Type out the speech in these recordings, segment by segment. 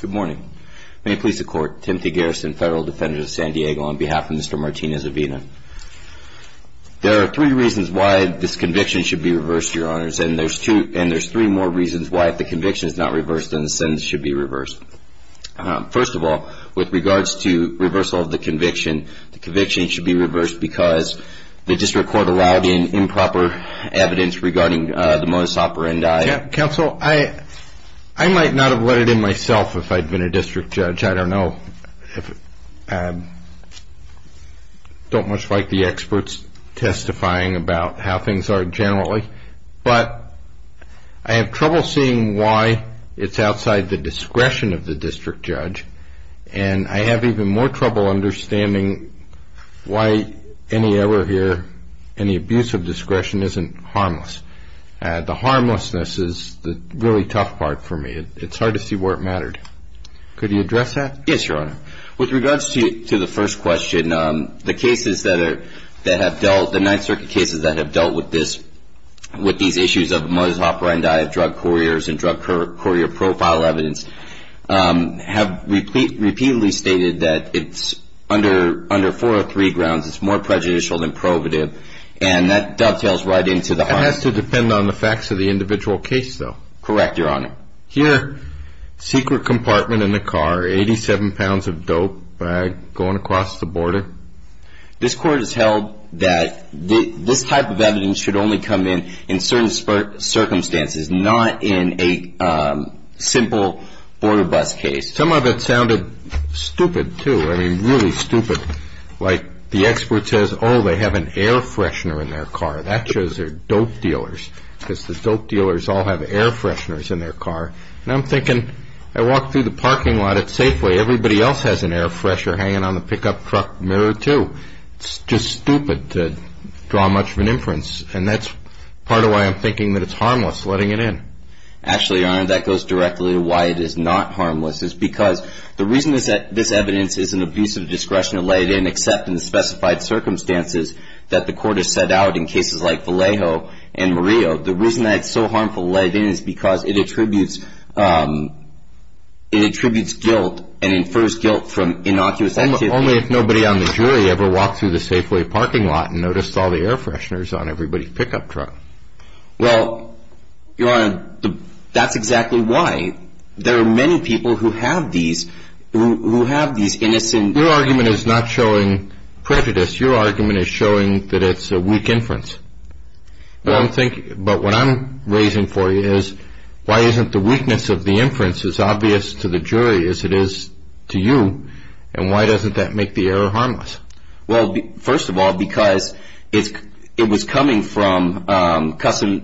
Good morning. May it please the Court, Timothy Garrison, Federal Defender of San Diego, on behalf of Mr. Martinez-Avina. There are three reasons why this conviction should be reversed, Your Honors, and there's three more reasons why, if the conviction is not reversed, then the sentence should be reversed. First of all, with regards to reversal of the conviction, the conviction should be reversed because the District Court allowed improper evidence regarding the modus operandi. I might not have let it in myself if I'd been a district judge. I don't know, I don't much like the experts testifying about how things are generally, but I have trouble seeing why it's outside the discretion of the district judge, and I have even more trouble understanding why any error here, any abuse of discretion, isn't harmless. The harmlessness is the really tough part for me. It's hard to see where it mattered. Could you address that? Yes, Your Honor. With regards to the first question, the cases that have dealt, the Ninth Circuit cases that have dealt with this, with these issues of modus operandi of drug couriers and drug courier profile evidence, have repeatedly stated that it's under four or three grounds, it's more prejudicial than prohibitive, and that dovetails right into the harm. That has to depend on the facts of the individual case, though. Correct, Your Honor. Here, secret compartment in the car, 87 pounds of dope bag going across the border. This Court has held that this type of evidence should only come in in certain circumstances, not in a simple border bus case. Some of it sounded stupid, too, I mean, really stupid. Like, the expert says, oh, they have an air freshener in their car. That shows they're dope dealers, because the dope dealers all have air fresheners in their car. And I'm thinking, I walk through the parking lot at Safeway, everybody else has an air freshener hanging on the pickup truck mirror, too. It's just stupid to draw much of an inference, and that's part of why I'm thinking that it's harmless, letting it in. Actually, Your Honor, that goes directly to why it is not harmless. It's because the reason that this evidence is an abuse of discretion to let it in, except in the specified circumstances that the Court has set out in cases like Vallejo and Murillo, the reason that it's so harmful to let it in is because it attributes guilt and infers guilt from innocuous activity. Only if nobody on the jury ever walked through the Safeway parking lot and noticed all the air fresheners on everybody's pickup truck. Well, Your Honor, that's exactly why. There are many people who have these innocent... Your argument is not showing prejudice. Your argument is showing that it's a weak inference. But what I'm raising for you is, why isn't the weakness of the inference as obvious to the jury as it is to you, and why doesn't that make the error harmless? Well, first of all, because it was coming from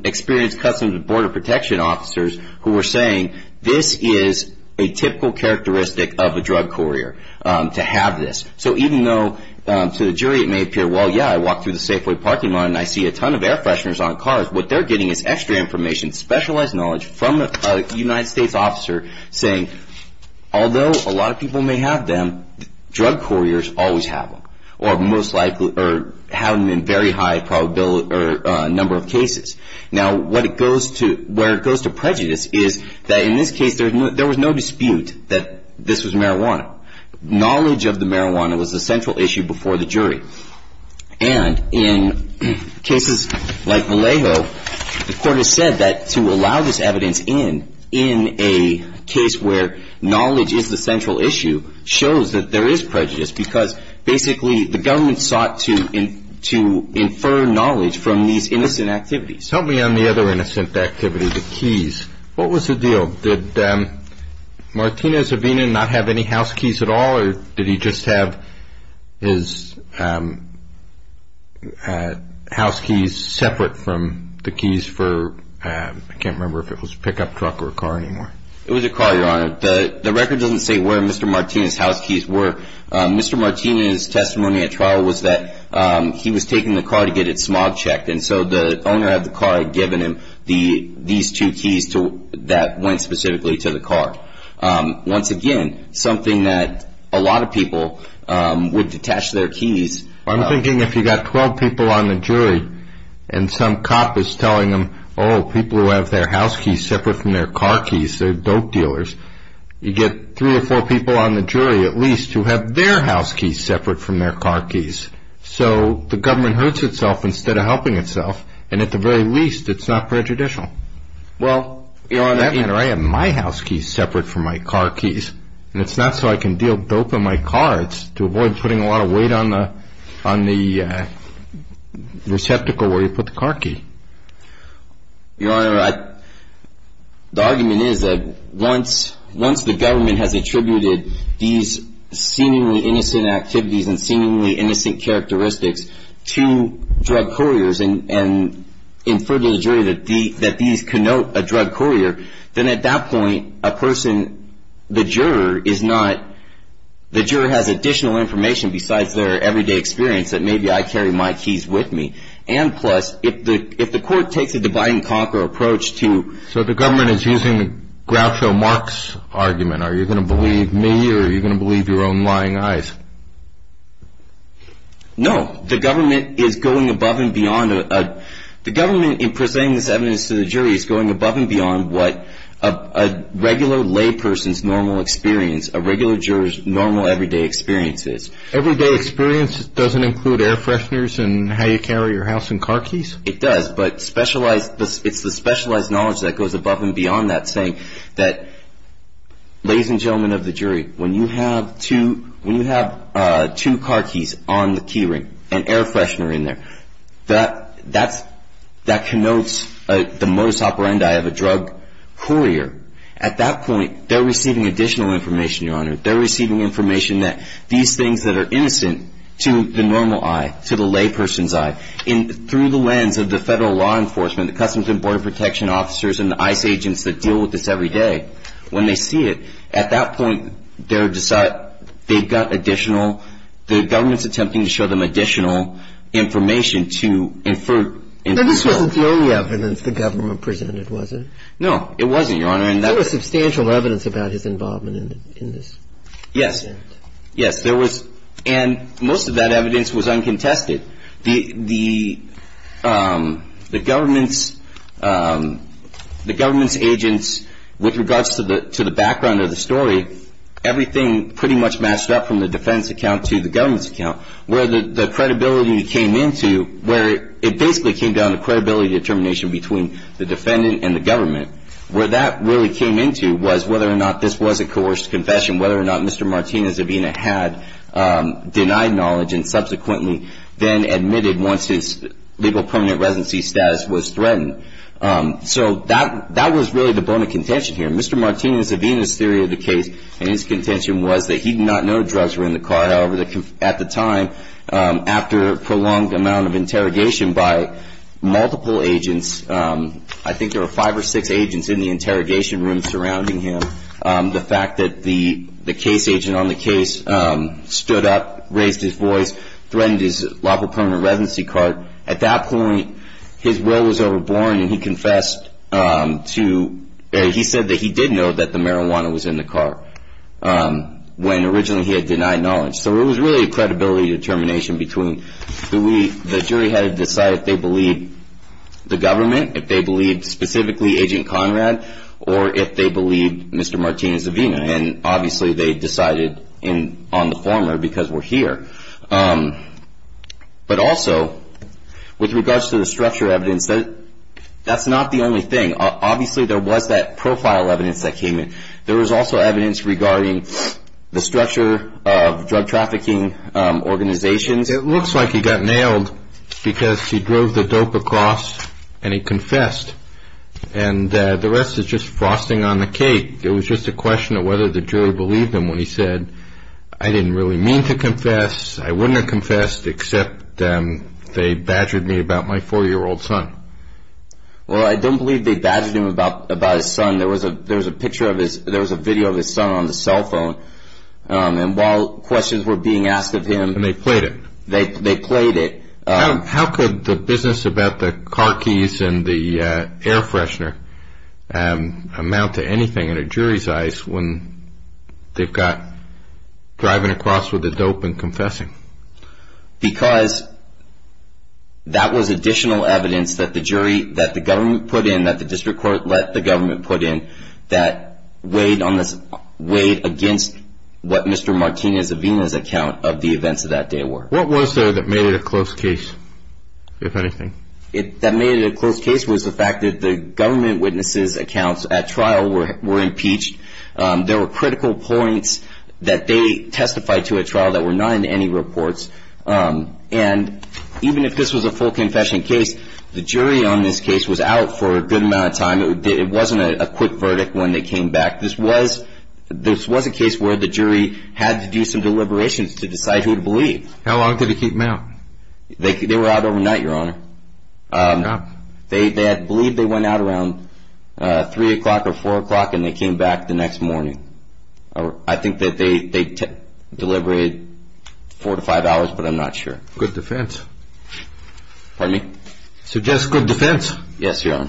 experienced Customs and Border Protection officers who were saying, this is a typical characteristic of a drug courier to have this. So even though to the jury it may appear, well, yeah, I walked through the Safeway parking lot and I see a ton of air fresheners on cars, what they're getting is extra information, specialized knowledge from a United States officer saying, although a lot of people may have them, drug couriers always have them, or most likely have them in a very high number of cases. Now, where it goes to prejudice is that in this case there was no dispute that this was marijuana. Knowledge of the marijuana was the central issue before the jury. And in cases like Vallejo, the court has said that to allow this evidence in, a case where knowledge is the central issue, shows that there is prejudice because basically the government sought to infer knowledge from these innocent activities. Tell me on the other innocent activity, the keys, what was the deal? Did Martinez-Avina not have any house keys at all, or did he just have his house keys separate from the keys for, I can't remember if it was a pickup truck or a car anymore. It was a car, Your Honor. The record doesn't say where Mr. Martinez' house keys were. Mr. Martinez' testimony at trial was that he was taking the car to get it smog checked, and so the owner of the car had given him these two keys that went specifically to the car. Once again, something that a lot of people would detach their keys. I'm thinking if you've got 12 people on the jury and some cop is telling them, oh, people who have their house keys separate from their car keys, they're dope dealers, you get three or four people on the jury at least who have their house keys separate from their car keys. So the government hurts itself instead of helping itself, and at the very least it's not prejudicial. Well, Your Honor, I have my house keys separate from my car keys, and it's not so I can deal dope in my car. It's to avoid putting a lot of weight on the receptacle where you put the car key. Your Honor, the argument is that once the government has attributed these seemingly innocent activities and seemingly innocent characteristics to drug couriers and inferred to the jury that these connote a drug courier, then at that point a person, the juror, has additional information besides their everyday experience that maybe I carry my keys with me. And plus, if the court takes a divide-and-conquer approach to... So the government is using Groucho Marx's argument. Are you going to believe me or are you going to believe your own lying eyes? No. No, the government is going above and beyond. The government in presenting this evidence to the jury is going above and beyond what a regular lay person's normal experience, a regular juror's normal everyday experience is. Everyday experience doesn't include air fresheners and how you carry your house and car keys? It does, but specialized, it's the specialized knowledge that goes above and beyond that, Ladies and gentlemen of the jury, when you have two car keys on the key ring and air freshener in there, that connotes the modus operandi of a drug courier. At that point, they're receiving additional information, Your Honor. They're receiving information that these things that are innocent to the normal eye, to the lay person's eye, through the lens of the federal law enforcement, the Customs and Border Protection officers and the ICE agents that deal with this every day, when they see it, at that point, they've got additional, the government's attempting to show them additional information to infer. But this wasn't the only evidence the government presented, was it? No, it wasn't, Your Honor. There was substantial evidence about his involvement in this. Yes. Yes, there was. And most of that evidence was uncontested. The government's agents, with regards to the background of the story, everything pretty much matched up from the defendant's account to the government's account, where the credibility came into, where it basically came down to credibility determination between the defendant and the government. Where that really came into was whether or not this was a coerced confession, whether or not Mr. Martinez-Avina had denied knowledge and subsequently then admitted once his legal permanent residency status was threatened. So that was really the bone of contention here. Mr. Martinez-Avina's theory of the case and his contention was that he did not know drugs were in the car. However, at the time, after a prolonged amount of interrogation by multiple agents, I think there were five or six agents in the interrogation room surrounding him, the fact that the case agent on the case stood up, raised his voice, threatened his lawful permanent residency card, at that point his will was overborne and he confessed to, he said that he did know that the marijuana was in the car when originally he had denied knowledge. So it was really a credibility determination between the jury had to decide if they believed the government, if they believed specifically Agent Conrad, or if they believed Mr. Martinez-Avina. And obviously they decided on the former because we're here. But also, with regards to the structure evidence, that's not the only thing. Obviously there was that profile evidence that came in. There was also evidence regarding the structure of drug trafficking organizations. It looks like he got nailed because he drove the dope across and he confessed. And the rest is just frosting on the cake. It was just a question of whether the jury believed him when he said, I didn't really mean to confess, I wouldn't have confessed, except they badgered me about my four-year-old son. Well, I don't believe they badgered him about his son. There was a video of his son on the cell phone. And while questions were being asked of him. And they played it. They played it. How could the business about the car keys and the air freshener amount to anything in a jury's eyes when they've got driving across with the dope and confessing? Because that was additional evidence that the jury, that the government put in, that the district court let the government put in, that weighed against what Mr. Martinez-Avina's account of the events of that day were. What was there that made it a close case, if anything? That made it a close case was the fact that the government witnesses' accounts at trial were impeached. There were critical points that they testified to at trial that were not in any reports. And even if this was a full confession case, the jury on this case was out for a good amount of time. It wasn't a quick verdict when they came back. This was a case where the jury had to do some deliberations to decide who to believe. How long did they keep them out? They were out overnight, Your Honor. They had believed they went out around 3 o'clock or 4 o'clock, and they came back the next morning. I think that they deliberated four to five hours, but I'm not sure. Good defense. Pardon me? Suggest good defense. Yes, Your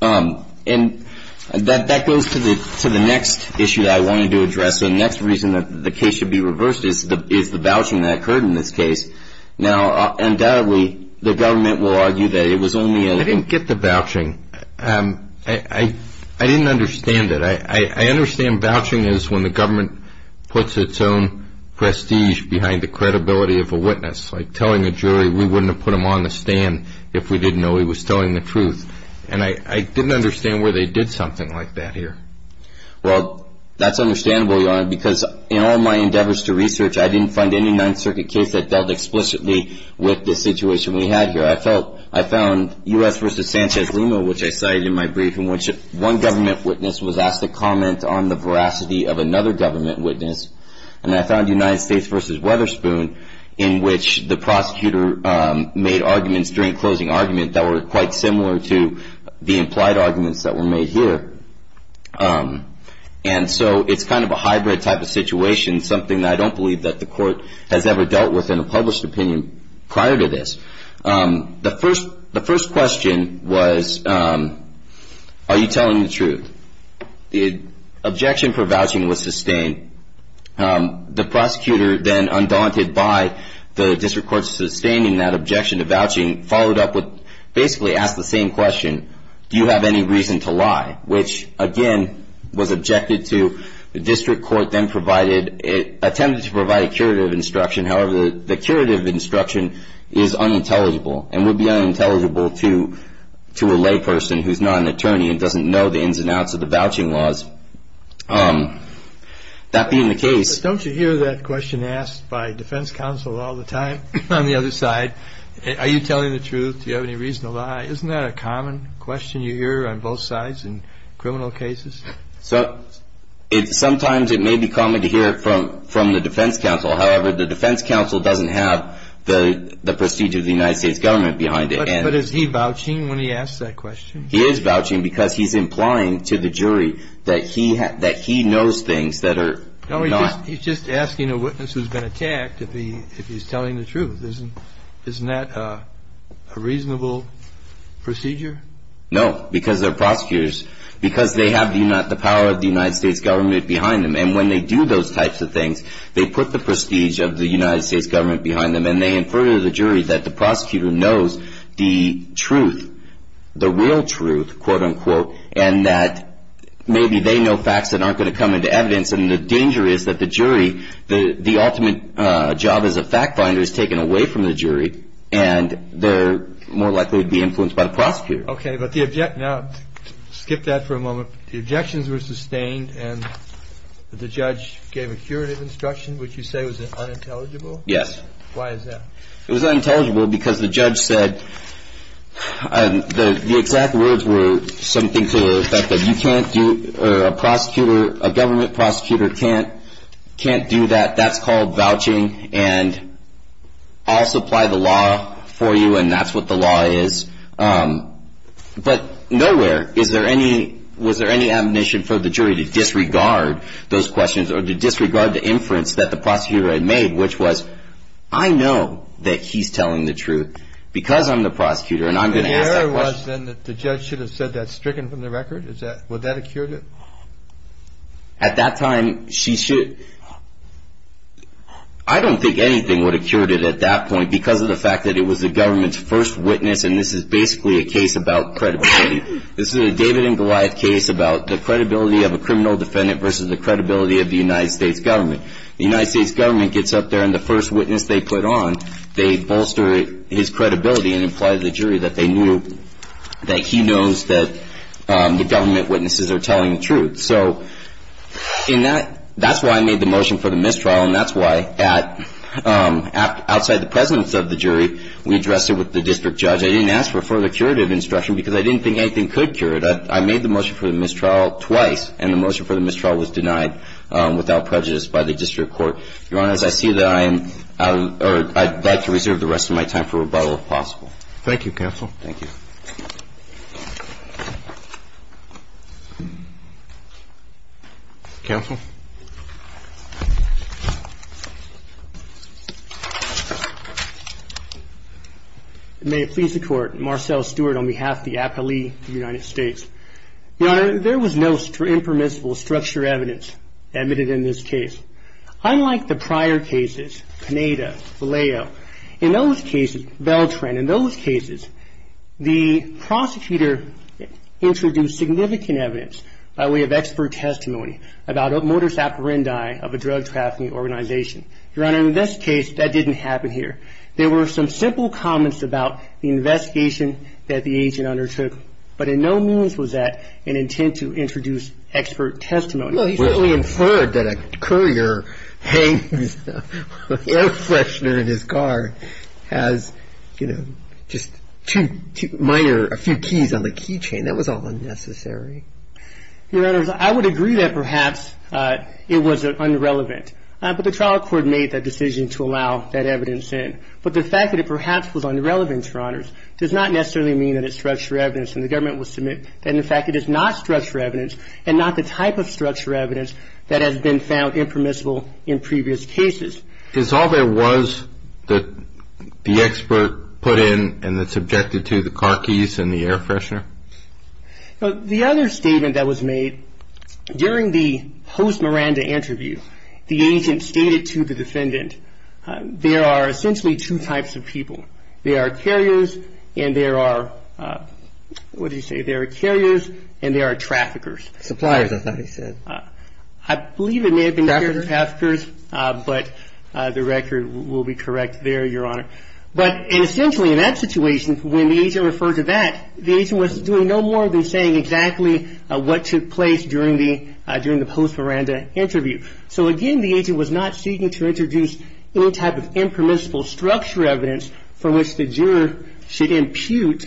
Honor. And that goes to the next issue that I wanted to address. The next reason that the case should be reversed is the vouching that occurred in this case. Now, undoubtedly, the government will argue that it was only a – I didn't get the vouching. I didn't understand it. I understand vouching is when the government puts its own prestige behind the credibility of a witness, like telling the jury we wouldn't have put him on the stand if we didn't know he was telling the truth. And I didn't understand where they did something like that here. Well, that's understandable, Your Honor, because in all my endeavors to research, I didn't find any Ninth Circuit case that dealt explicitly with the situation we had here. I found U.S. v. Sanchez Lima, which I cited in my brief, in which one government witness was asked to comment on the veracity of another government witness. And I found United States v. Weatherspoon, in which the prosecutor made arguments during closing argument that were quite similar to the implied arguments that were made here. And so it's kind of a hybrid type of situation, something that I don't believe that the court has ever dealt with in a published opinion prior to this. The first question was, are you telling the truth? The objection for vouching was sustained. The prosecutor then, undaunted by the district court's sustaining that objection to vouching, basically asked the same question, do you have any reason to lie, which, again, was objected to. The district court then attempted to provide a curative instruction. However, the curative instruction is unintelligible and would be unintelligible to a layperson who's not an attorney and doesn't know the ins and outs of the vouching laws. That being the case... But don't you hear that question asked by defense counsel all the time on the other side? Are you telling the truth? Do you have any reason to lie? Isn't that a common question you hear on both sides in criminal cases? Sometimes it may be common to hear it from the defense counsel. However, the defense counsel doesn't have the procedure of the United States government behind it. But is he vouching when he asks that question? He is vouching because he's implying to the jury that he knows things that are not... No, he's just asking a witness who's been attacked if he's telling the truth. Isn't that a reasonable procedure? No, because they're prosecutors. Because they have the power of the United States government behind them. And when they do those types of things, they put the prestige of the United States government behind them. And they infer to the jury that the prosecutor knows the truth, the real truth, quote-unquote, and that maybe they know facts that aren't going to come into evidence. And the danger is that the jury, the ultimate job as a fact finder is taken away from the jury, and they're more likely to be influenced by the prosecutor. Okay, but the object... Now, skip that for a moment. So the objections were sustained, and the judge gave a curative instruction, which you say was unintelligible? Yes. Why is that? It was unintelligible because the judge said the exact words were something to the effect that you can't do, or a prosecutor, a government prosecutor can't do that. That's called vouching, and I'll supply the law for you, and that's what the law is. But nowhere was there any admonition for the jury to disregard those questions or to disregard the inference that the prosecutor had made, which was, I know that he's telling the truth because I'm the prosecutor, and I'm going to ask that question. And the error was then that the judge should have said that stricken from the record? Would that have cured it? At that time, she should... I don't think anything would have cured it at that point because of the fact that it was the government's first witness, and this is basically a case about credibility. This is a David and Goliath case about the credibility of a criminal defendant versus the credibility of the United States government. The United States government gets up there, and the first witness they put on, they bolster his credibility and imply to the jury that they knew, that he knows that the government witnesses are telling the truth. So that's why I made the motion for the mistrial, and that's why outside the presence of the jury, we addressed it with the district judge. I didn't ask for further curative instruction because I didn't think anything could cure it. I made the motion for the mistrial twice, and the motion for the mistrial was denied without prejudice by the district court. Your Honor, as I see that, I am or I'd like to reserve the rest of my time for rebuttal if possible. Thank you, counsel. Thank you. Counsel? May it please the Court. Marcel Stewart on behalf of the appellee of the United States. Your Honor, there was no impermissible structure evidence admitted in this case. Unlike the prior cases, Pineda, Valeo, in those cases, Beltran, in those cases, the prosecutor introduced significant evidence by way of expert testimony about a motor saparandai of a drug trafficking organization. Your Honor, in this case, that didn't happen here. There were some simple comments about the investigation that the agent undertook, but in no means was that an intent to introduce expert testimony. Well, he certainly inferred that a courier hangs an air freshener in his car, has, you know, just two minor, a few keys on the key chain. That was all unnecessary. Your Honors, I would agree that perhaps it was unrelevant, but the trial court made that decision to allow that evidence in. But the fact that it perhaps was unrelevant, Your Honors, does not necessarily mean that it's structure evidence, and the government will submit that, in fact, it is not structure evidence and not the type of structure evidence that has been found impermissible in previous cases. Is all there was that the expert put in and that's subjected to the car keys and the air freshener? The other statement that was made during the host Miranda interview, the agent stated to the defendant there are essentially two types of people. There are carriers and there are, what did he say, there are carriers and there are traffickers. Suppliers, I thought he said. I believe it may have been traffickers, but the record will be correct there, Your Honor. But essentially, in that situation, when the agent referred to that, the agent was doing no more than saying exactly what took place during the host Miranda interview. So, again, the agent was not seeking to introduce any type of impermissible structure evidence from which the juror should impute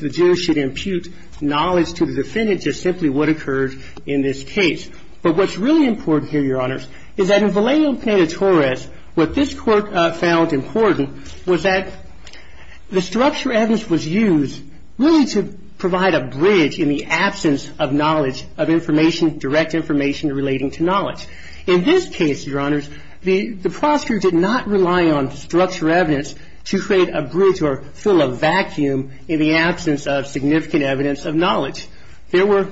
knowledge to the defendant, just simply what occurred in this case. But what's really important here, Your Honors, is that in Vallejo-Pena-Torres, what this Court found important was that the structure evidence was used really to provide a bridge in the absence of knowledge of information, direct information relating to knowledge. In this case, Your Honors, the prosecutor did not rely on structure evidence to create a bridge or fill a vacuum in the absence of significant evidence of knowledge. There were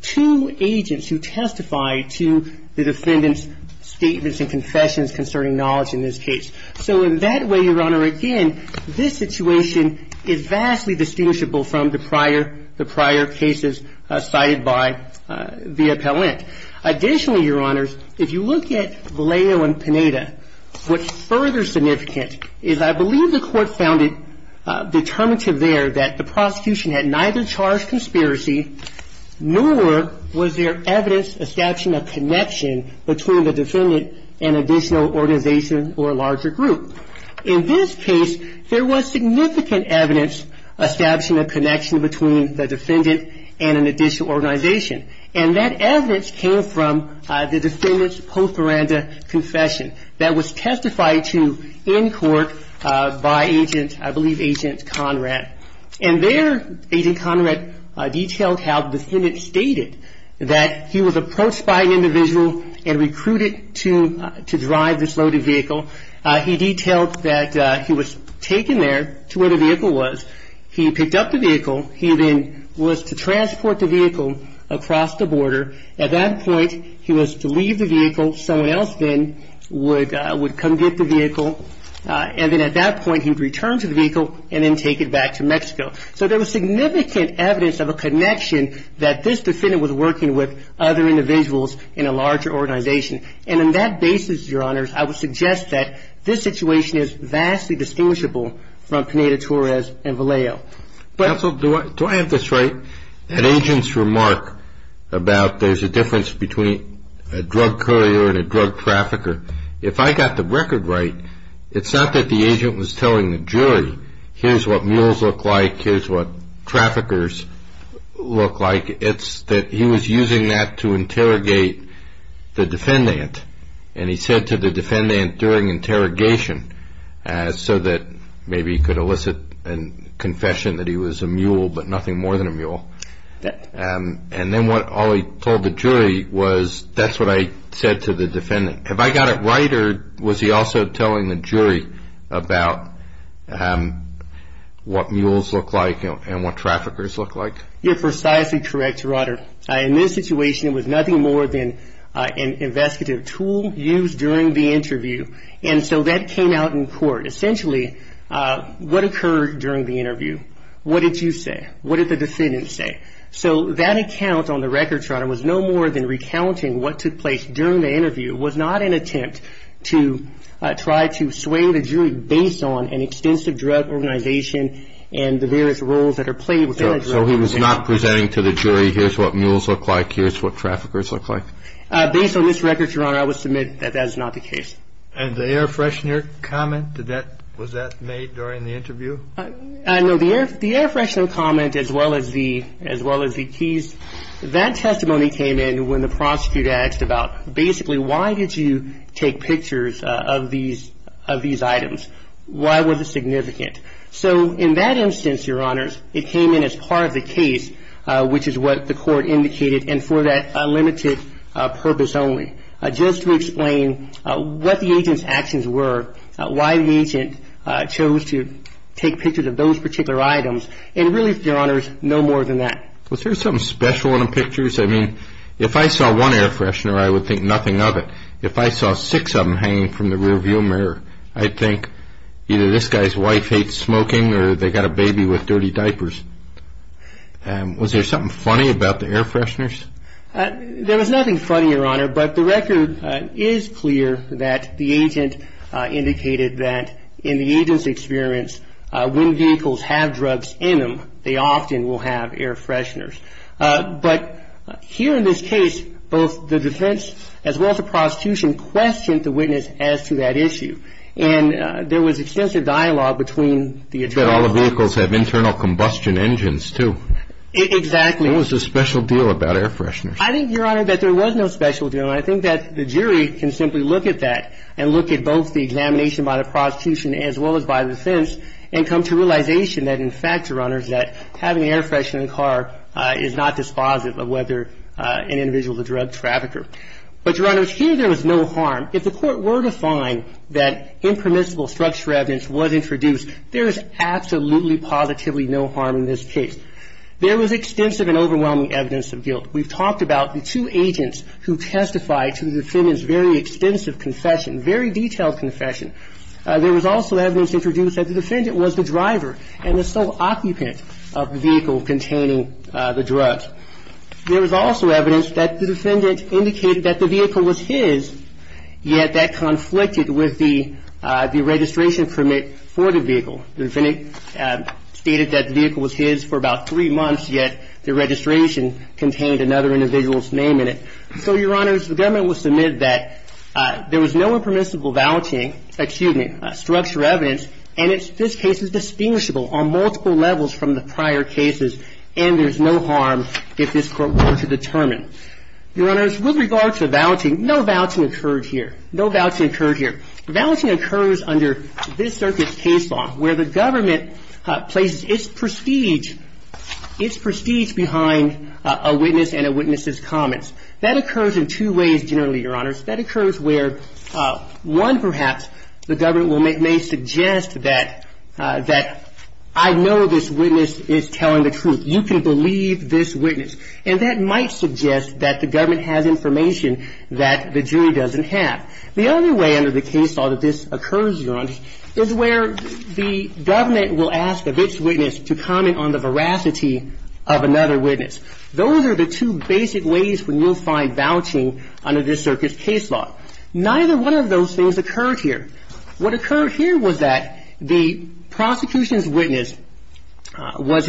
two agents who testified to the defendant's statements and confessions concerning knowledge in this case. So, in that way, Your Honor, again, this situation is vastly distinguishable from the prior cases cited by Villa-Pellant. Additionally, Your Honors, if you look at Vallejo and Pineda, what's further significant is I believe the Court found it determinative there that the prosecution had neither charged conspiracy nor was there evidence establishing a connection between the defendant and an additional organization or a larger group. In this case, there was significant evidence establishing a connection between the defendant and an additional organization. And that evidence came from the defendant's post-horanda confession that was testified to in court by Agent, I believe, Agent Conrad. And there, Agent Conrad detailed how the defendant stated that he was approached by an individual and recruited to drive this loaded vehicle. He detailed that he was taken there to where the vehicle was. He picked up the vehicle. He then was to transport the vehicle across the border. At that point, he was to leave the vehicle. Someone else then would come get the vehicle. And then at that point, he'd return to the vehicle and then take it back to Mexico. So there was significant evidence of a connection that this defendant was working with other individuals in a larger organization. And on that basis, Your Honors, I would suggest that this situation is vastly distinguishable from Pineda-Torres and Vallejo. Counsel, do I have this right? That agent's remark about there's a difference between a drug courier and a drug trafficker, if I got the record right, it's not that the agent was telling the jury, here's what mules look like, here's what traffickers look like. It's that he was using that to interrogate the defendant. And he said to the defendant during interrogation so that maybe he could elicit a confession that he was a mule, but nothing more than a mule. And then all he told the jury was, that's what I said to the defendant. Have I got it right, or was he also telling the jury about what mules look like and what traffickers look like? You're precisely correct, Your Honor. In this situation, it was nothing more than an investigative tool used during the interview. And so that came out in court. Essentially, what occurred during the interview? What did you say? What did the defendant say? So that account on the record, Your Honor, was no more than recounting what took place during the interview. It was not an attempt to try to sway the jury based on an extensive drug organization and the various roles that are played within a drug organization. So he was not presenting to the jury, here's what mules look like, here's what traffickers look like? Based on this record, Your Honor, I would submit that that is not the case. And the air freshener comment, was that made during the interview? No, the air freshener comment as well as the keys, that testimony came in when the prosecutor asked about basically why did you take pictures of these items? Why was it significant? So in that instance, Your Honors, it came in as part of the case, which is what the court indicated, and for that unlimited purpose only. Just to explain what the agent's actions were, why the agent chose to take pictures of those particular items, and really, Your Honors, no more than that. Was there something special in the pictures? I mean, if I saw one air freshener, I would think nothing of it. If I saw six of them hanging from the rear view mirror, I'd think either this guy's wife hates smoking or they've got a baby with dirty diapers. Was there something funny about the air fresheners? There was nothing funny, Your Honor, but the record is clear that the agent indicated that in the agent's experience, when vehicles have drugs in them, they often will have air fresheners. But here in this case, both the defense as well as the prosecution questioned the witness as to that issue, and there was extensive dialogue between the attorneys. But all the vehicles have internal combustion engines, too. Exactly. What was the special deal about air fresheners? I think, Your Honor, that there was no special deal, and I think that the jury can simply look at that and look at both the examination by the prosecution as well as by the defense and come to realization that, in fact, Your Honors, that having an air freshener in the car is not dispositive of whether an individual is a drug trafficker. But, Your Honors, here there was no harm. If the Court were to find that impermissible structural evidence was introduced, there is absolutely positively no harm in this case. There was extensive and overwhelming evidence of guilt. We've talked about the two agents who testified to the defendant's very extensive confession, very detailed confession. There was also evidence introduced that the defendant was the driver and the sole occupant of the vehicle containing the drugs. There was also evidence that the defendant indicated that the vehicle was his, yet that conflicted with the registration permit for the vehicle. The defendant stated that the vehicle was his for about three months, yet the registration contained another individual's name in it. So, Your Honors, the government will submit that there was no impermissible vouching excuse me, structural evidence, and this case is distinguishable on multiple levels from the prior cases, and there's no harm if this Court were to determine. Your Honors, with regard to vouching, no vouching occurred here. No vouching occurred here. Vouching occurs under this circuit's case law, where the government places its prestige, its prestige behind a witness and a witness's comments. That occurs in two ways generally, Your Honors. That occurs where, one, perhaps, the government may suggest that I know this witness is telling the truth. You can believe this witness, and that might suggest that the government has information that the jury doesn't have. The other way under the case law that this occurs, Your Honors, is where the government will ask of its witness to comment on the veracity of another witness. Those are the two basic ways when you'll find vouching under this circuit's case law. Neither one of those things occurred here. What occurred here was that the prosecution's witness was,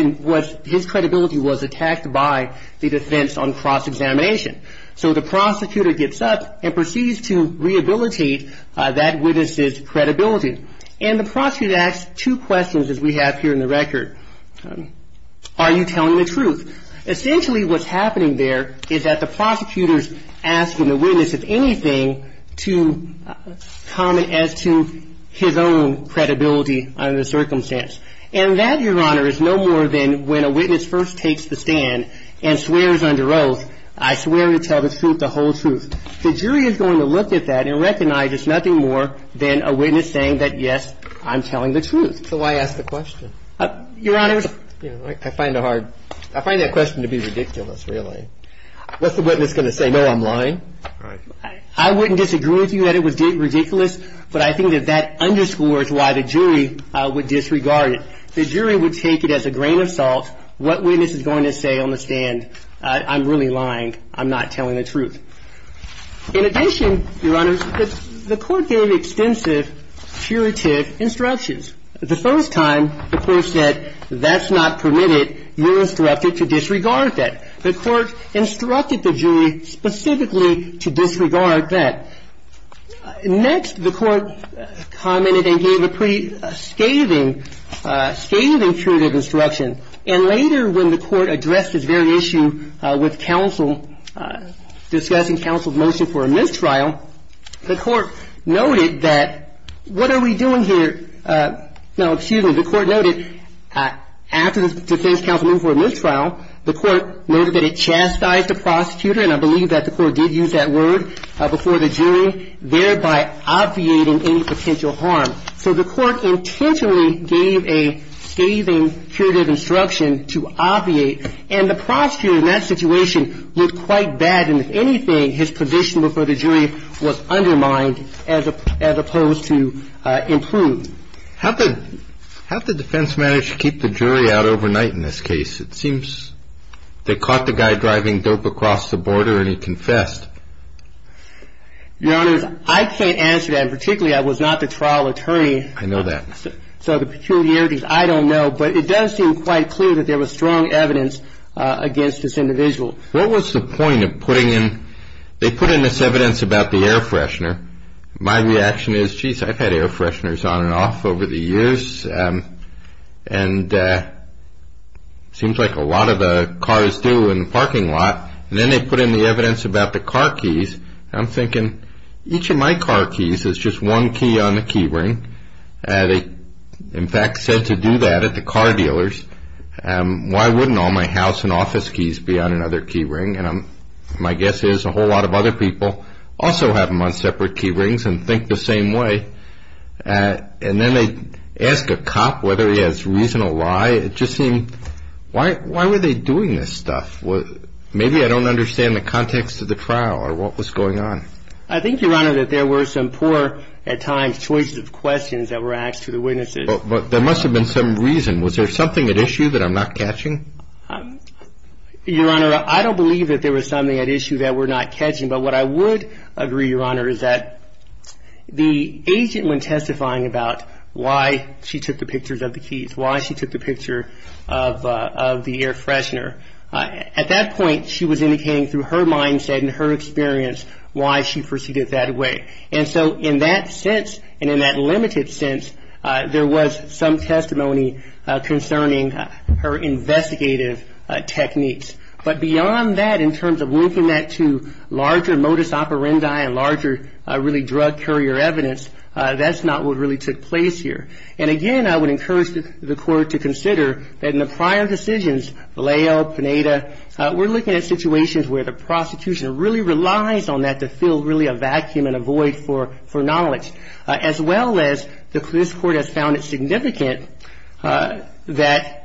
his credibility was attacked by the defense on cross-examination. So, the prosecutor gets up and proceeds to rehabilitate that witness's credibility, and the prosecutor asks two questions, as we have here in the record. Are you telling the truth? Essentially, what's happening there is that the prosecutor's asking the witness, if anything, to comment as to his own credibility under the circumstance. And that, Your Honor, is no more than when a witness first takes the stand and swears under oath, I swear to tell the truth, the whole truth. The jury is going to look at that and recognize it's nothing more than a witness saying that, yes, I'm telling the truth. So why ask the question? Your Honor, I find that question to be ridiculous, really. What's the witness going to say? No, I'm lying? I wouldn't disagree with you that it was ridiculous, but I think that that underscores why the jury would disregard it. The jury would take it as a grain of salt. What witness is going to say on the stand? I'm really lying. I'm not telling the truth. In addition, Your Honor, the court gave extensive curative instructions. The first time, the court said, that's not permitted. You're instructed to disregard that. The court instructed the jury specifically to disregard that. Next, the court commented and gave a pretty scathing, scathing curative instruction. And later when the court addressed this very issue with counsel, discussing counsel's motion for a mistrial, the court noted that, what are we doing here? No, excuse me. The court noted, after the defense counsel moved for a mistrial, the court noted that it chastised the prosecutor, and I believe that the court did use that word before the jury, thereby obviating any potential harm. So the court intentionally gave a scathing curative instruction to obviate, and the prosecutor in that situation looked quite bad. And if anything, his position before the jury was undermined as opposed to improved. How did the defense manage to keep the jury out overnight in this case? It seems they caught the guy driving dope across the border and he confessed. Your Honor, I can't answer that, and particularly I was not the trial attorney. I know that. So the peculiarities, I don't know, but it does seem quite clear that there was strong evidence against this individual. What was the point of putting in, they put in this evidence about the air freshener. My reaction is, geez, I've had air fresheners on and off over the years, and it seems like a lot of the cars do in the parking lot. And then they put in the evidence about the car keys, and I'm thinking, each of my car keys is just one key on the key ring. They, in fact, said to do that at the car dealers. Why wouldn't all my house and office keys be on another key ring? And my guess is a whole lot of other people also have them on separate key rings and think the same way. And then they ask a cop whether he has reason or why. It just seemed, why were they doing this stuff? Maybe I don't understand the context of the trial or what was going on. I think, Your Honor, that there were some poor, at times, choices of questions that were asked to the witnesses. But there must have been some reason. Was there something at issue that I'm not catching? Your Honor, I don't believe that there was something at issue that we're not catching. But what I would agree, Your Honor, is that the agent, when testifying about why she took the pictures of the keys, why she took the picture of the air freshener, at that point, she was indicating through her mindset and her experience why she perceived it that way. And so in that sense and in that limited sense, there was some testimony concerning her investigative techniques. But beyond that, in terms of linking that to larger modus operandi and larger really drug courier evidence, that's not what really took place here. And again, I would encourage the Court to consider that in the prior decisions, Vallejo, Pineda, we're looking at situations where the prosecution really relies on that to fill really a vacuum and a void for knowledge, as well as this Court has found it significant that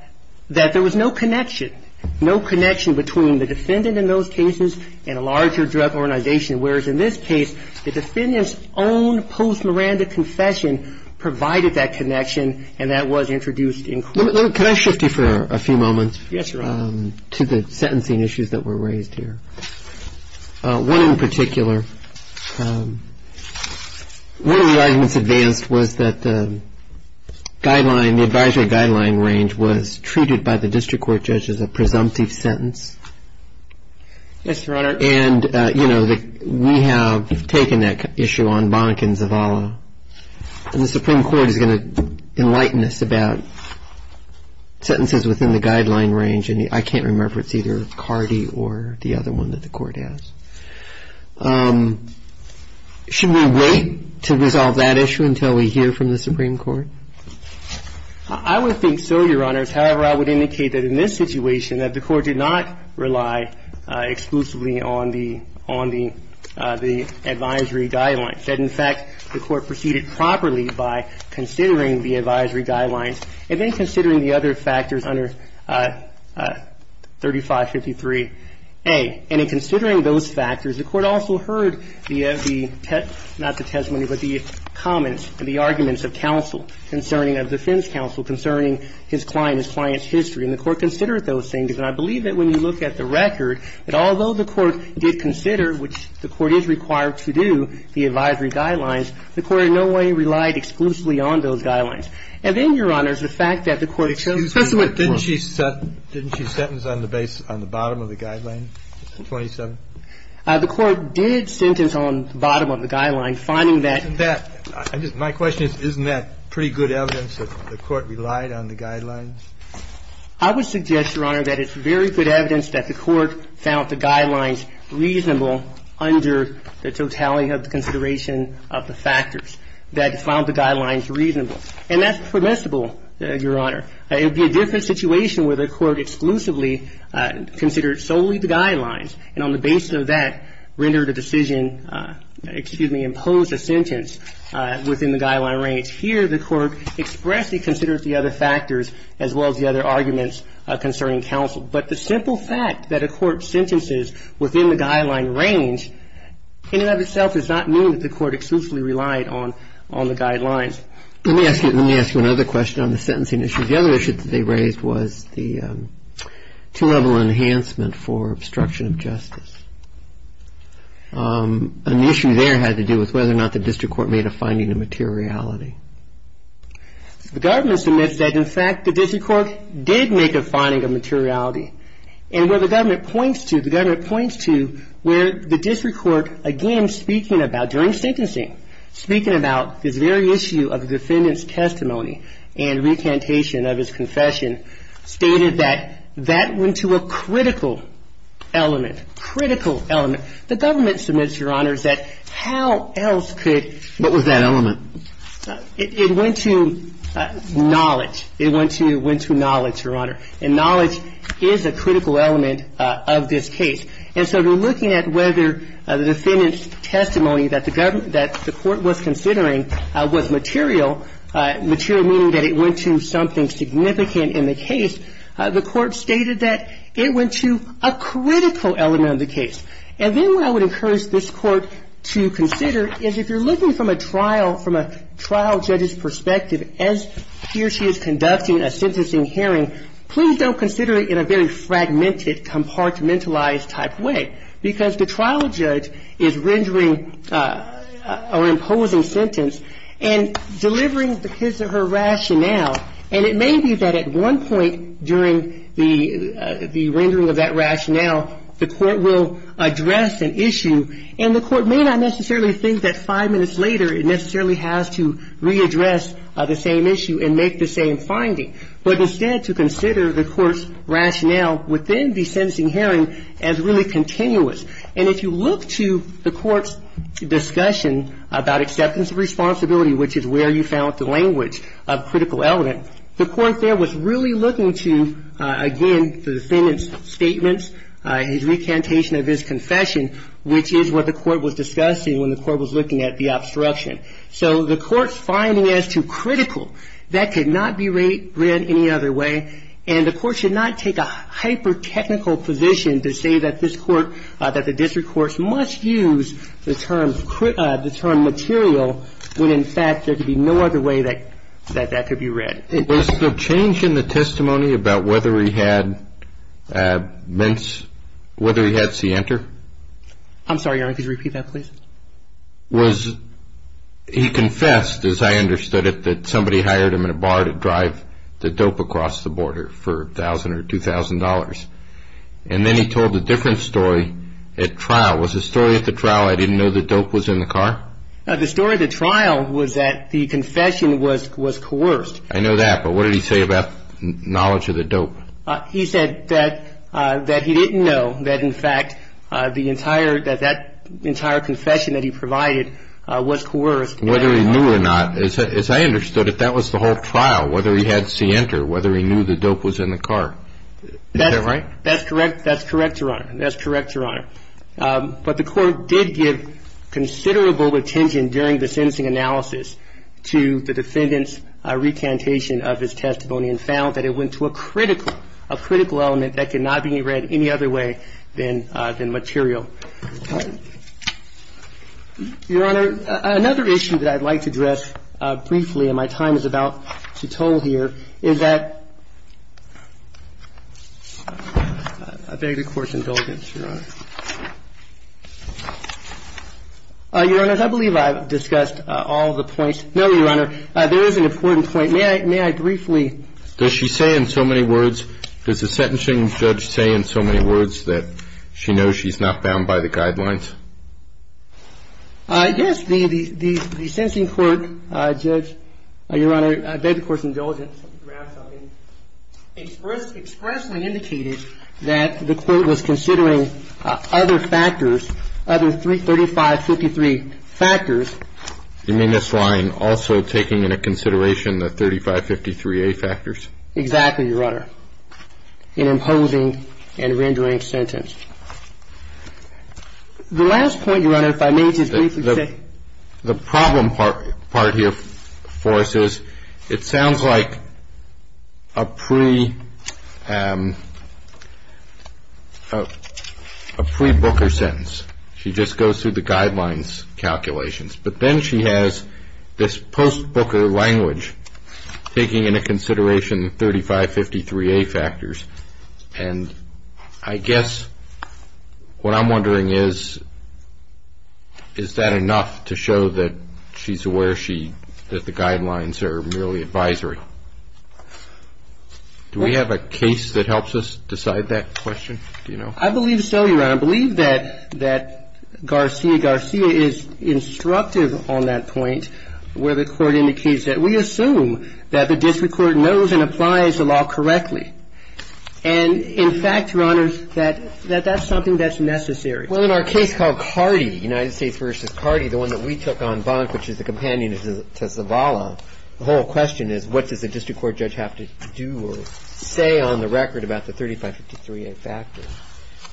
there was no connection, no connection between the defendant in those cases and a larger drug organization, whereas in this case, the defendant's own post-Miranda confession provided that connection, and that was introduced in court. Can I shift you for a few moments? Yes, Your Honor. To the sentencing issues that were raised here. One in particular, one of the arguments advanced was that the guideline, the advisory guideline range was treated by the district court judge as a presumptive sentence. Yes, Your Honor. And, you know, we have taken that issue on Bonnick and Zavala, and the Supreme Court is going to enlighten us about sentences within the guideline range, and I can't remember if it's either Cardi or the other one that the Court has. Should we wait to resolve that issue until we hear from the Supreme Court? I would think so, Your Honors. However, I would indicate that in this situation that the Court did not rely exclusively on the advisory guidelines, that, in fact, the Court proceeded properly by considering the advisory guidelines and then considering the other factors under 3553A. And in considering those factors, the Court also heard the, not the testimony, but the comments and the arguments of counsel concerning, of defense counsel concerning his client, his client's history. And the Court considered those things. And I believe that when you look at the record, that although the Court did consider, which the Court is required to do, the advisory guidelines, the Court in no way relied exclusively on those guidelines. And then, Your Honors, the fact that the Court chose to do it. Didn't she sentence on the base, on the bottom of the guideline, 27? The Court did sentence on the bottom of the guideline, finding that. Isn't that, my question is, isn't that pretty good evidence that the Court relied on the guidelines? I would suggest, Your Honor, that it's very good evidence that the Court found the guidelines reasonable under the totality of the consideration of the factors, that it found the guidelines reasonable. And that's permissible, Your Honor. It would be a different situation where the Court exclusively considered solely the guidelines, and on the basis of that rendered a decision, excuse me, imposed a sentence within the guideline range. Here, the Court expressly considers the other factors as well as the other arguments concerning counsel. But the simple fact that a court sentences within the guideline range, in and of itself, does not mean that the Court exclusively relied on the guidelines. Let me ask you another question on the sentencing issue. The other issue that they raised was the two-level enhancement for obstruction of justice. An issue there had to do with whether or not the district court made a finding of materiality. The government submits that, in fact, the district court did make a finding of materiality. And where the government points to, the government points to where the district court, again, speaking about, during sentencing, speaking about this very issue of defendant's testimony and recantation of his confession, stated that that went to a critical element. The government submits, Your Honor, that how else could ---- What was that element? It went to knowledge. It went to knowledge, Your Honor. And knowledge is a critical element of this case. And so they're looking at whether the defendant's testimony that the government ---- that the Court was considering was material, material meaning that it went to something significant in the case. The Court stated that it went to a critical element of the case. And then what I would encourage this Court to consider is if you're looking from a trial, from a trial judge's perspective, as he or she is conducting a sentencing hearing, please don't consider it in a very fragmented, compartmentalized type way. Because the trial judge is rendering or imposing sentence and delivering because of her rationale. And it may be that at one point during the rendering of that rationale, the Court will address an issue, and the Court may not necessarily think that five minutes later it necessarily has to readdress the same issue and make the same finding. But instead to consider the Court's rationale within the sentencing hearing as really continuous. And if you look to the Court's discussion about acceptance of responsibility, which is where you found the language of critical element, the Court there was really looking to, again, the defendant's statements, his recantation of his confession, which is what the Court was discussing when the Court was looking at the obstruction. So the Court's finding as to critical, that could not be read any other way. And the Court should not take a hyper-technical position to say that this Court, that the district courts must use the term material when, in fact, there could be no other way that that could be read. Was the change in the testimony about whether he had mints, whether he had C-enter? I'm sorry, Your Honor, could you repeat that, please? Was he confessed, as I understood it, that somebody hired him in a bar to drive the dope across the border for $1,000 or $2,000. And then he told a different story at trial. Was the story at the trial, I didn't know the dope was in the car? The story at the trial was that the confession was coerced. I know that, but what did he say about knowledge of the dope? He said that he didn't know that, in fact, the entire, that that entire confession that he provided was coerced. Whether he knew or not, as I understood it, that was the whole trial, whether he had C-enter, whether he knew the dope was in the car. Is that right? That's correct. That's correct, Your Honor. That's correct, Your Honor. But the court did give considerable attention during the sentencing analysis to the defendant's recantation of his testimony and found that it went to a critical, a critical element that could not be read any other way than material. Your Honor, another issue that I'd like to address briefly, and my time is about to toll here, is that I beg the Court's indulgence, Your Honor. Your Honor, I believe I've discussed all of the points. No, Your Honor, there is an important point. May I briefly Does she say in so many words, does the sentencing judge say in so many words that she knows she's not bound by the law? She knows she's not bound by the guidelines? Yes. The sentencing court, Judge, Your Honor, I beg the Court's indulgence, expressly indicated that the court was considering other factors, other 3553 factors. You mean this line, also taking into consideration the 3553A factors? Exactly, Your Honor, in imposing and rendering sentence. The last point, Your Honor, if I may just briefly say. The problem part here for us is it sounds like a pre-Booker sentence. She just goes through the guidelines calculations. But then she has this post-Booker language, taking into consideration 3553A factors. And I guess what I'm wondering is, is that enough to show that she's aware that the guidelines are merely advisory? Do we have a case that helps us decide that question? Do you know? I believe so, Your Honor. I believe that Garcia Garcia is instructive on that point, where the Court indicates that we assume that the district court knows and applies the law correctly. And, in fact, Your Honor, that that's something that's necessary. Well, in our case called Cardi, United States v. Cardi, the one that we took on Bonk, which is the companion to Zavala, the whole question is, what does the district court know about 3553A factors?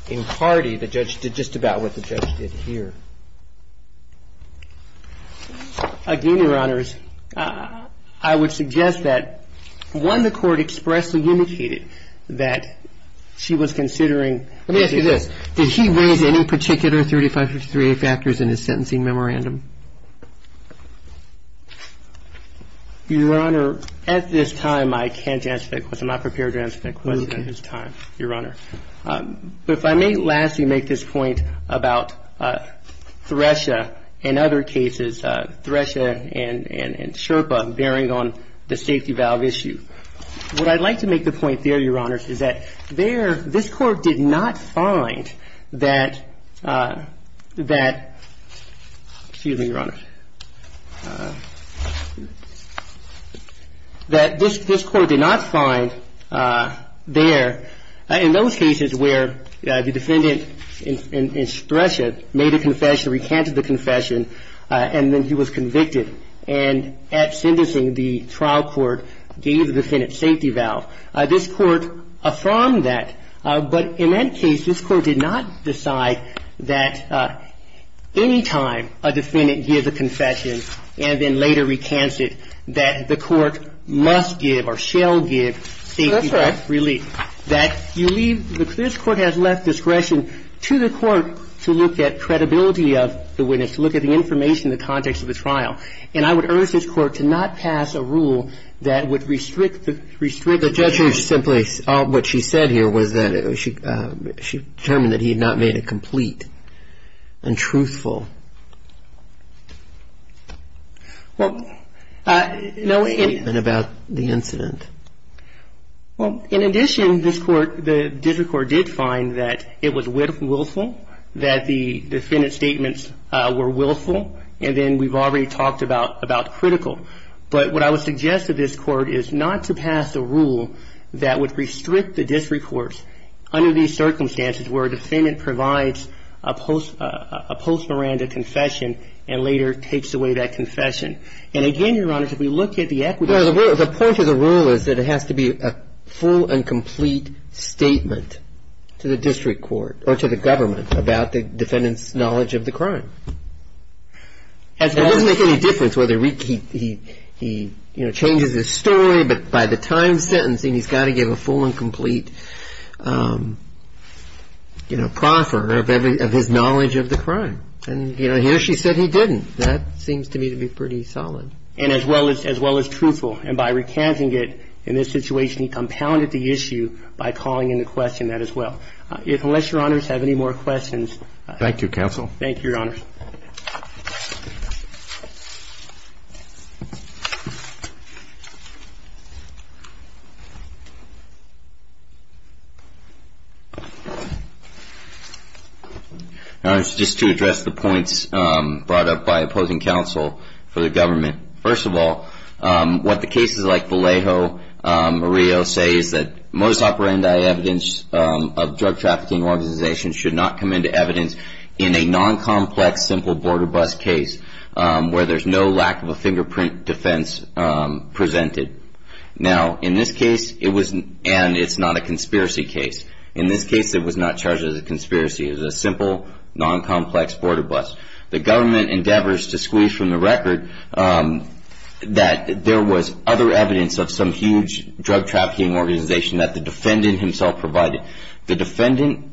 In Cardi, the judge did just about what the judge did here. Again, Your Honors, I would suggest that, one, the Court expressly indicated that she was considering Let me ask you this. Did he raise any particular 3553A factors in his sentencing memorandum? Your Honor, at this time, I can't answer that question. I'm not prepared to answer that question at this time, Your Honor. But if I may lastly make this point about Thresha and other cases, Thresha and Sherpa, bearing on the safety valve issue, what I'd like to make the point there, Your Honors, is that this Court did not find that, excuse me, Your Honor, that this Court did not find there, in those cases where the defendant in Thresha made a confession, recanted the confession, and then he was convicted. And at sentencing, the trial court gave the defendant safety valve. This Court affirmed that. But in that case, this Court did not decide that any time a defendant gives a confession and then later recants it, that the Court must give or shall give safety valve relief. That's right. That you leave, this Court has left discretion to the Court to look at credibility of the witness, to look at the information in the context of the trial. And I would urge this Court to not pass a rule that would restrict the judgment. The judge simply, what she said here was that she determined that he had not made a complete and truthful statement about the incident. Well, in addition, this Court, the district court did find that it was willful, that the defendant's statements were willful. And then we've already talked about critical. But what I would suggest to this Court is not to pass a rule that would restrict the district courts under these circumstances where a defendant provides a post-Miranda confession and later takes away that confession. And again, Your Honor, if we look at the equity of the case. Well, the point of the rule is that it has to be a full and complete statement to the district court or to the government about the defendant's knowledge of the crime. It doesn't make any difference whether he changes his story, but by the time sentencing, he's got to give a full and complete, you know, proffer of his knowledge of the crime. And, you know, here she said he didn't. That seems to me to be pretty solid. And as well as truthful. And by recanting it in this situation, he compounded the issue by calling into question that as well. Unless Your Honors have any more questions. Thank you, Counsel. Thank you, Your Honors. Your Honors, just to address the points brought up by opposing counsel for the government. First of all, what the cases like Vallejo or Rio say is that most operandi evidence of drug trafficking organizations should not come into evidence in a non-complex, simple border bus case where there's no lack of a fingerprint defense presented. Now, in this case, it was, and it's not a conspiracy case. In this case, it was not charged as a conspiracy. It was a simple, non-complex border bus. The government endeavors to squeeze from the record that there was other evidence of some huge drug trafficking organization that the defendant himself provided. The defendant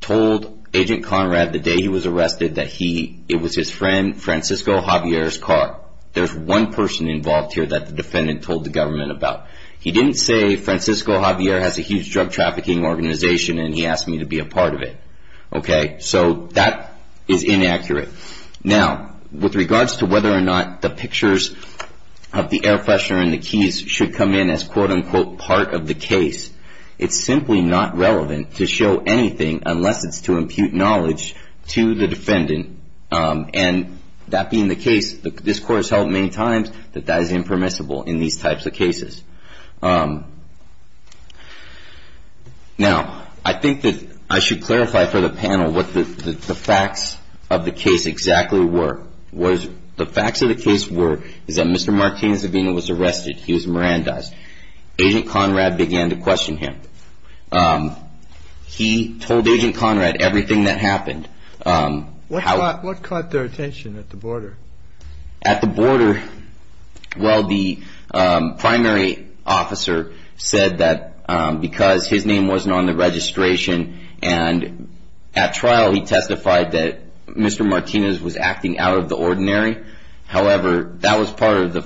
told Agent Conrad the day he was arrested that he, it was his friend Francisco Javier's car. There's one person involved here that the defendant told the government about. He didn't say Francisco Javier has a huge drug trafficking organization and he asked me to be a part of it. Okay? So that is inaccurate. Now, with regards to whether or not the pictures of the air freshener and the keys should come in as quote, unquote, part of the case, it's simply not relevant to show anything unless it's to impute knowledge to the defendant. And that being the case, this court has held many times that that is impermissible in these types of cases. Now, I think that I should clarify for the panel what the facts of the case exactly were. The facts of the case were that Mr. Martinez-Avena was arrested. He was Mirandized. Agent Conrad began to question him. He told Agent Conrad everything that happened. What caught their attention at the border? At the border, well, the primary officer said that because his name wasn't on the registration, and at trial he testified that Mr. Martinez was acting out of the ordinary. However, that was part of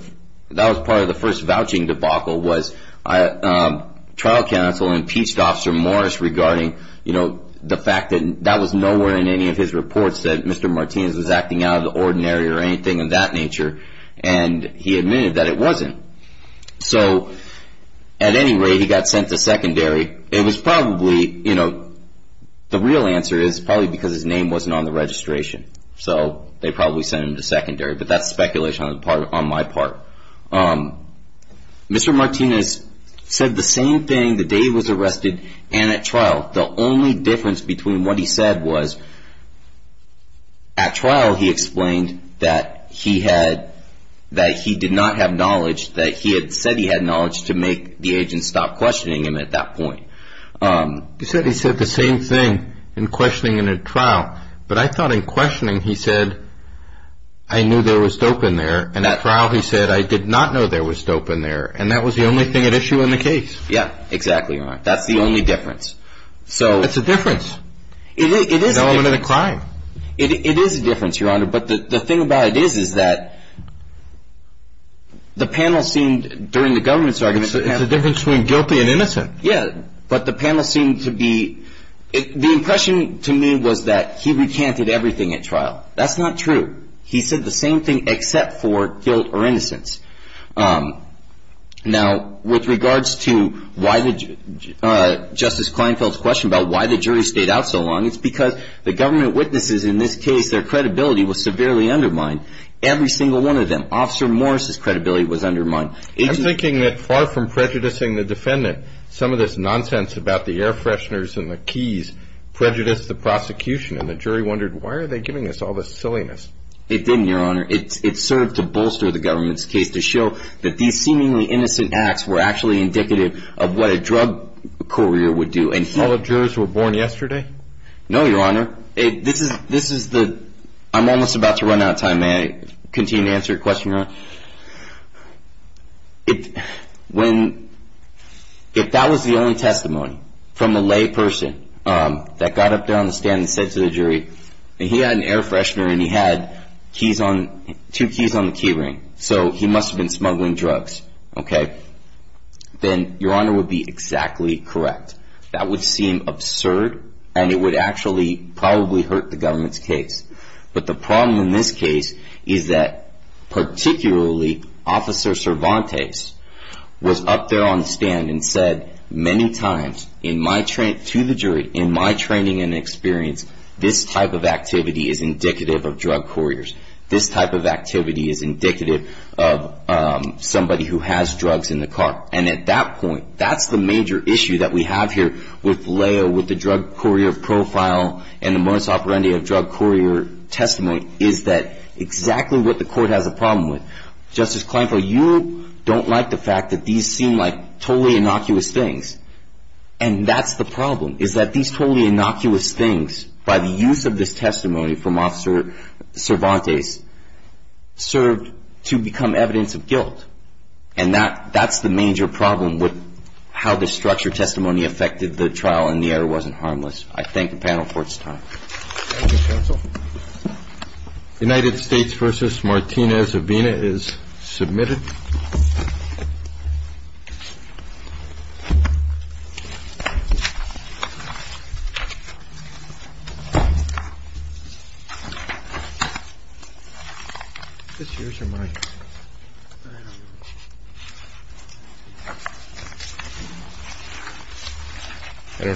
the first vouching debacle was trial counsel impeached Officer Morris regarding, you know, the fact that that was nowhere in any of his reports that Mr. Martinez was acting out of the ordinary or anything of that nature, and he admitted that it wasn't. So at any rate, he got sent to secondary. It was probably, you know, the real answer is probably because his name wasn't on the registration. So they probably sent him to secondary, but that's speculation on my part. Mr. Martinez said the same thing the day he was arrested and at trial. The only difference between what he said was at trial he explained that he had, that he did not have knowledge, that he had said he had knowledge to make the agent stop questioning him at that point. He said he said the same thing in questioning in a trial, but I thought in questioning he said I knew there was dope in there, and at trial he said I did not know there was dope in there, and that was the only thing at issue in the case. Yeah, exactly, Your Honor. That's the only difference. It's a difference. It is a difference. It's an element of the crime. It is a difference, Your Honor, but the thing about it is that the panel seemed, during the government's argument, It's a difference between guilty and innocent. Yeah, but the panel seemed to be, the impression to me was that he recanted everything at trial. That's not true. He said the same thing except for guilt or innocence. Now, with regards to Justice Kleinfeld's question about why the jury stayed out so long, it's because the government witnesses in this case, their credibility was severely undermined. Every single one of them. Officer Morris's credibility was undermined. I'm thinking that far from prejudicing the defendant, some of this nonsense about the air fresheners and the keys prejudiced the prosecution, and the jury wondered why are they giving us all this silliness. It didn't, Your Honor. It served to bolster the government's case to show that these seemingly innocent acts were actually indicative of what a drug courier would do. All the jurors were born yesterday? No, Your Honor. This is the, I'm almost about to run out of time. May I continue to answer your question, Your Honor? When, if that was the only testimony from the lay person that got up there on the stand and said to the jury, he had an air freshener and he had keys on, two keys on the key ring, so he must have been smuggling drugs, okay, then Your Honor would be exactly correct. That would seem absurd and it would actually probably hurt the government's case. But the problem in this case is that particularly Officer Cervantes was up there on the stand and said many times, to the jury, in my training and experience, this type of activity is indicative of drug couriers. This type of activity is indicative of somebody who has drugs in the car. And at that point, that's the major issue that we have here with Leo, with the drug courier profile and the modus operandi of drug courier testimony, is that exactly what the court has a problem with. Justice Kleinfeld, you don't like the fact that these seem like totally innocuous things. And that's the problem, is that these totally innocuous things, by the use of this testimony from Officer Cervantes, served to become evidence of guilt. And that's the major problem with how the structured testimony affected the trial and the error wasn't harmless. I thank the panel for its time. Thank you, counsel. United States versus Martinez-Avena is submitted.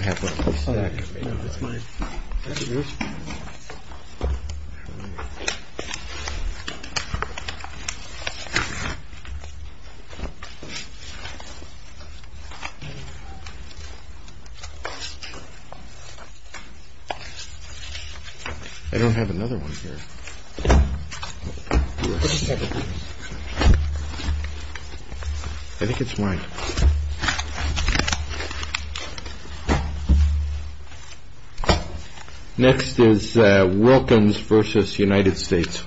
I don't have another one here. I think it's mine. Next is Wilkins versus United States.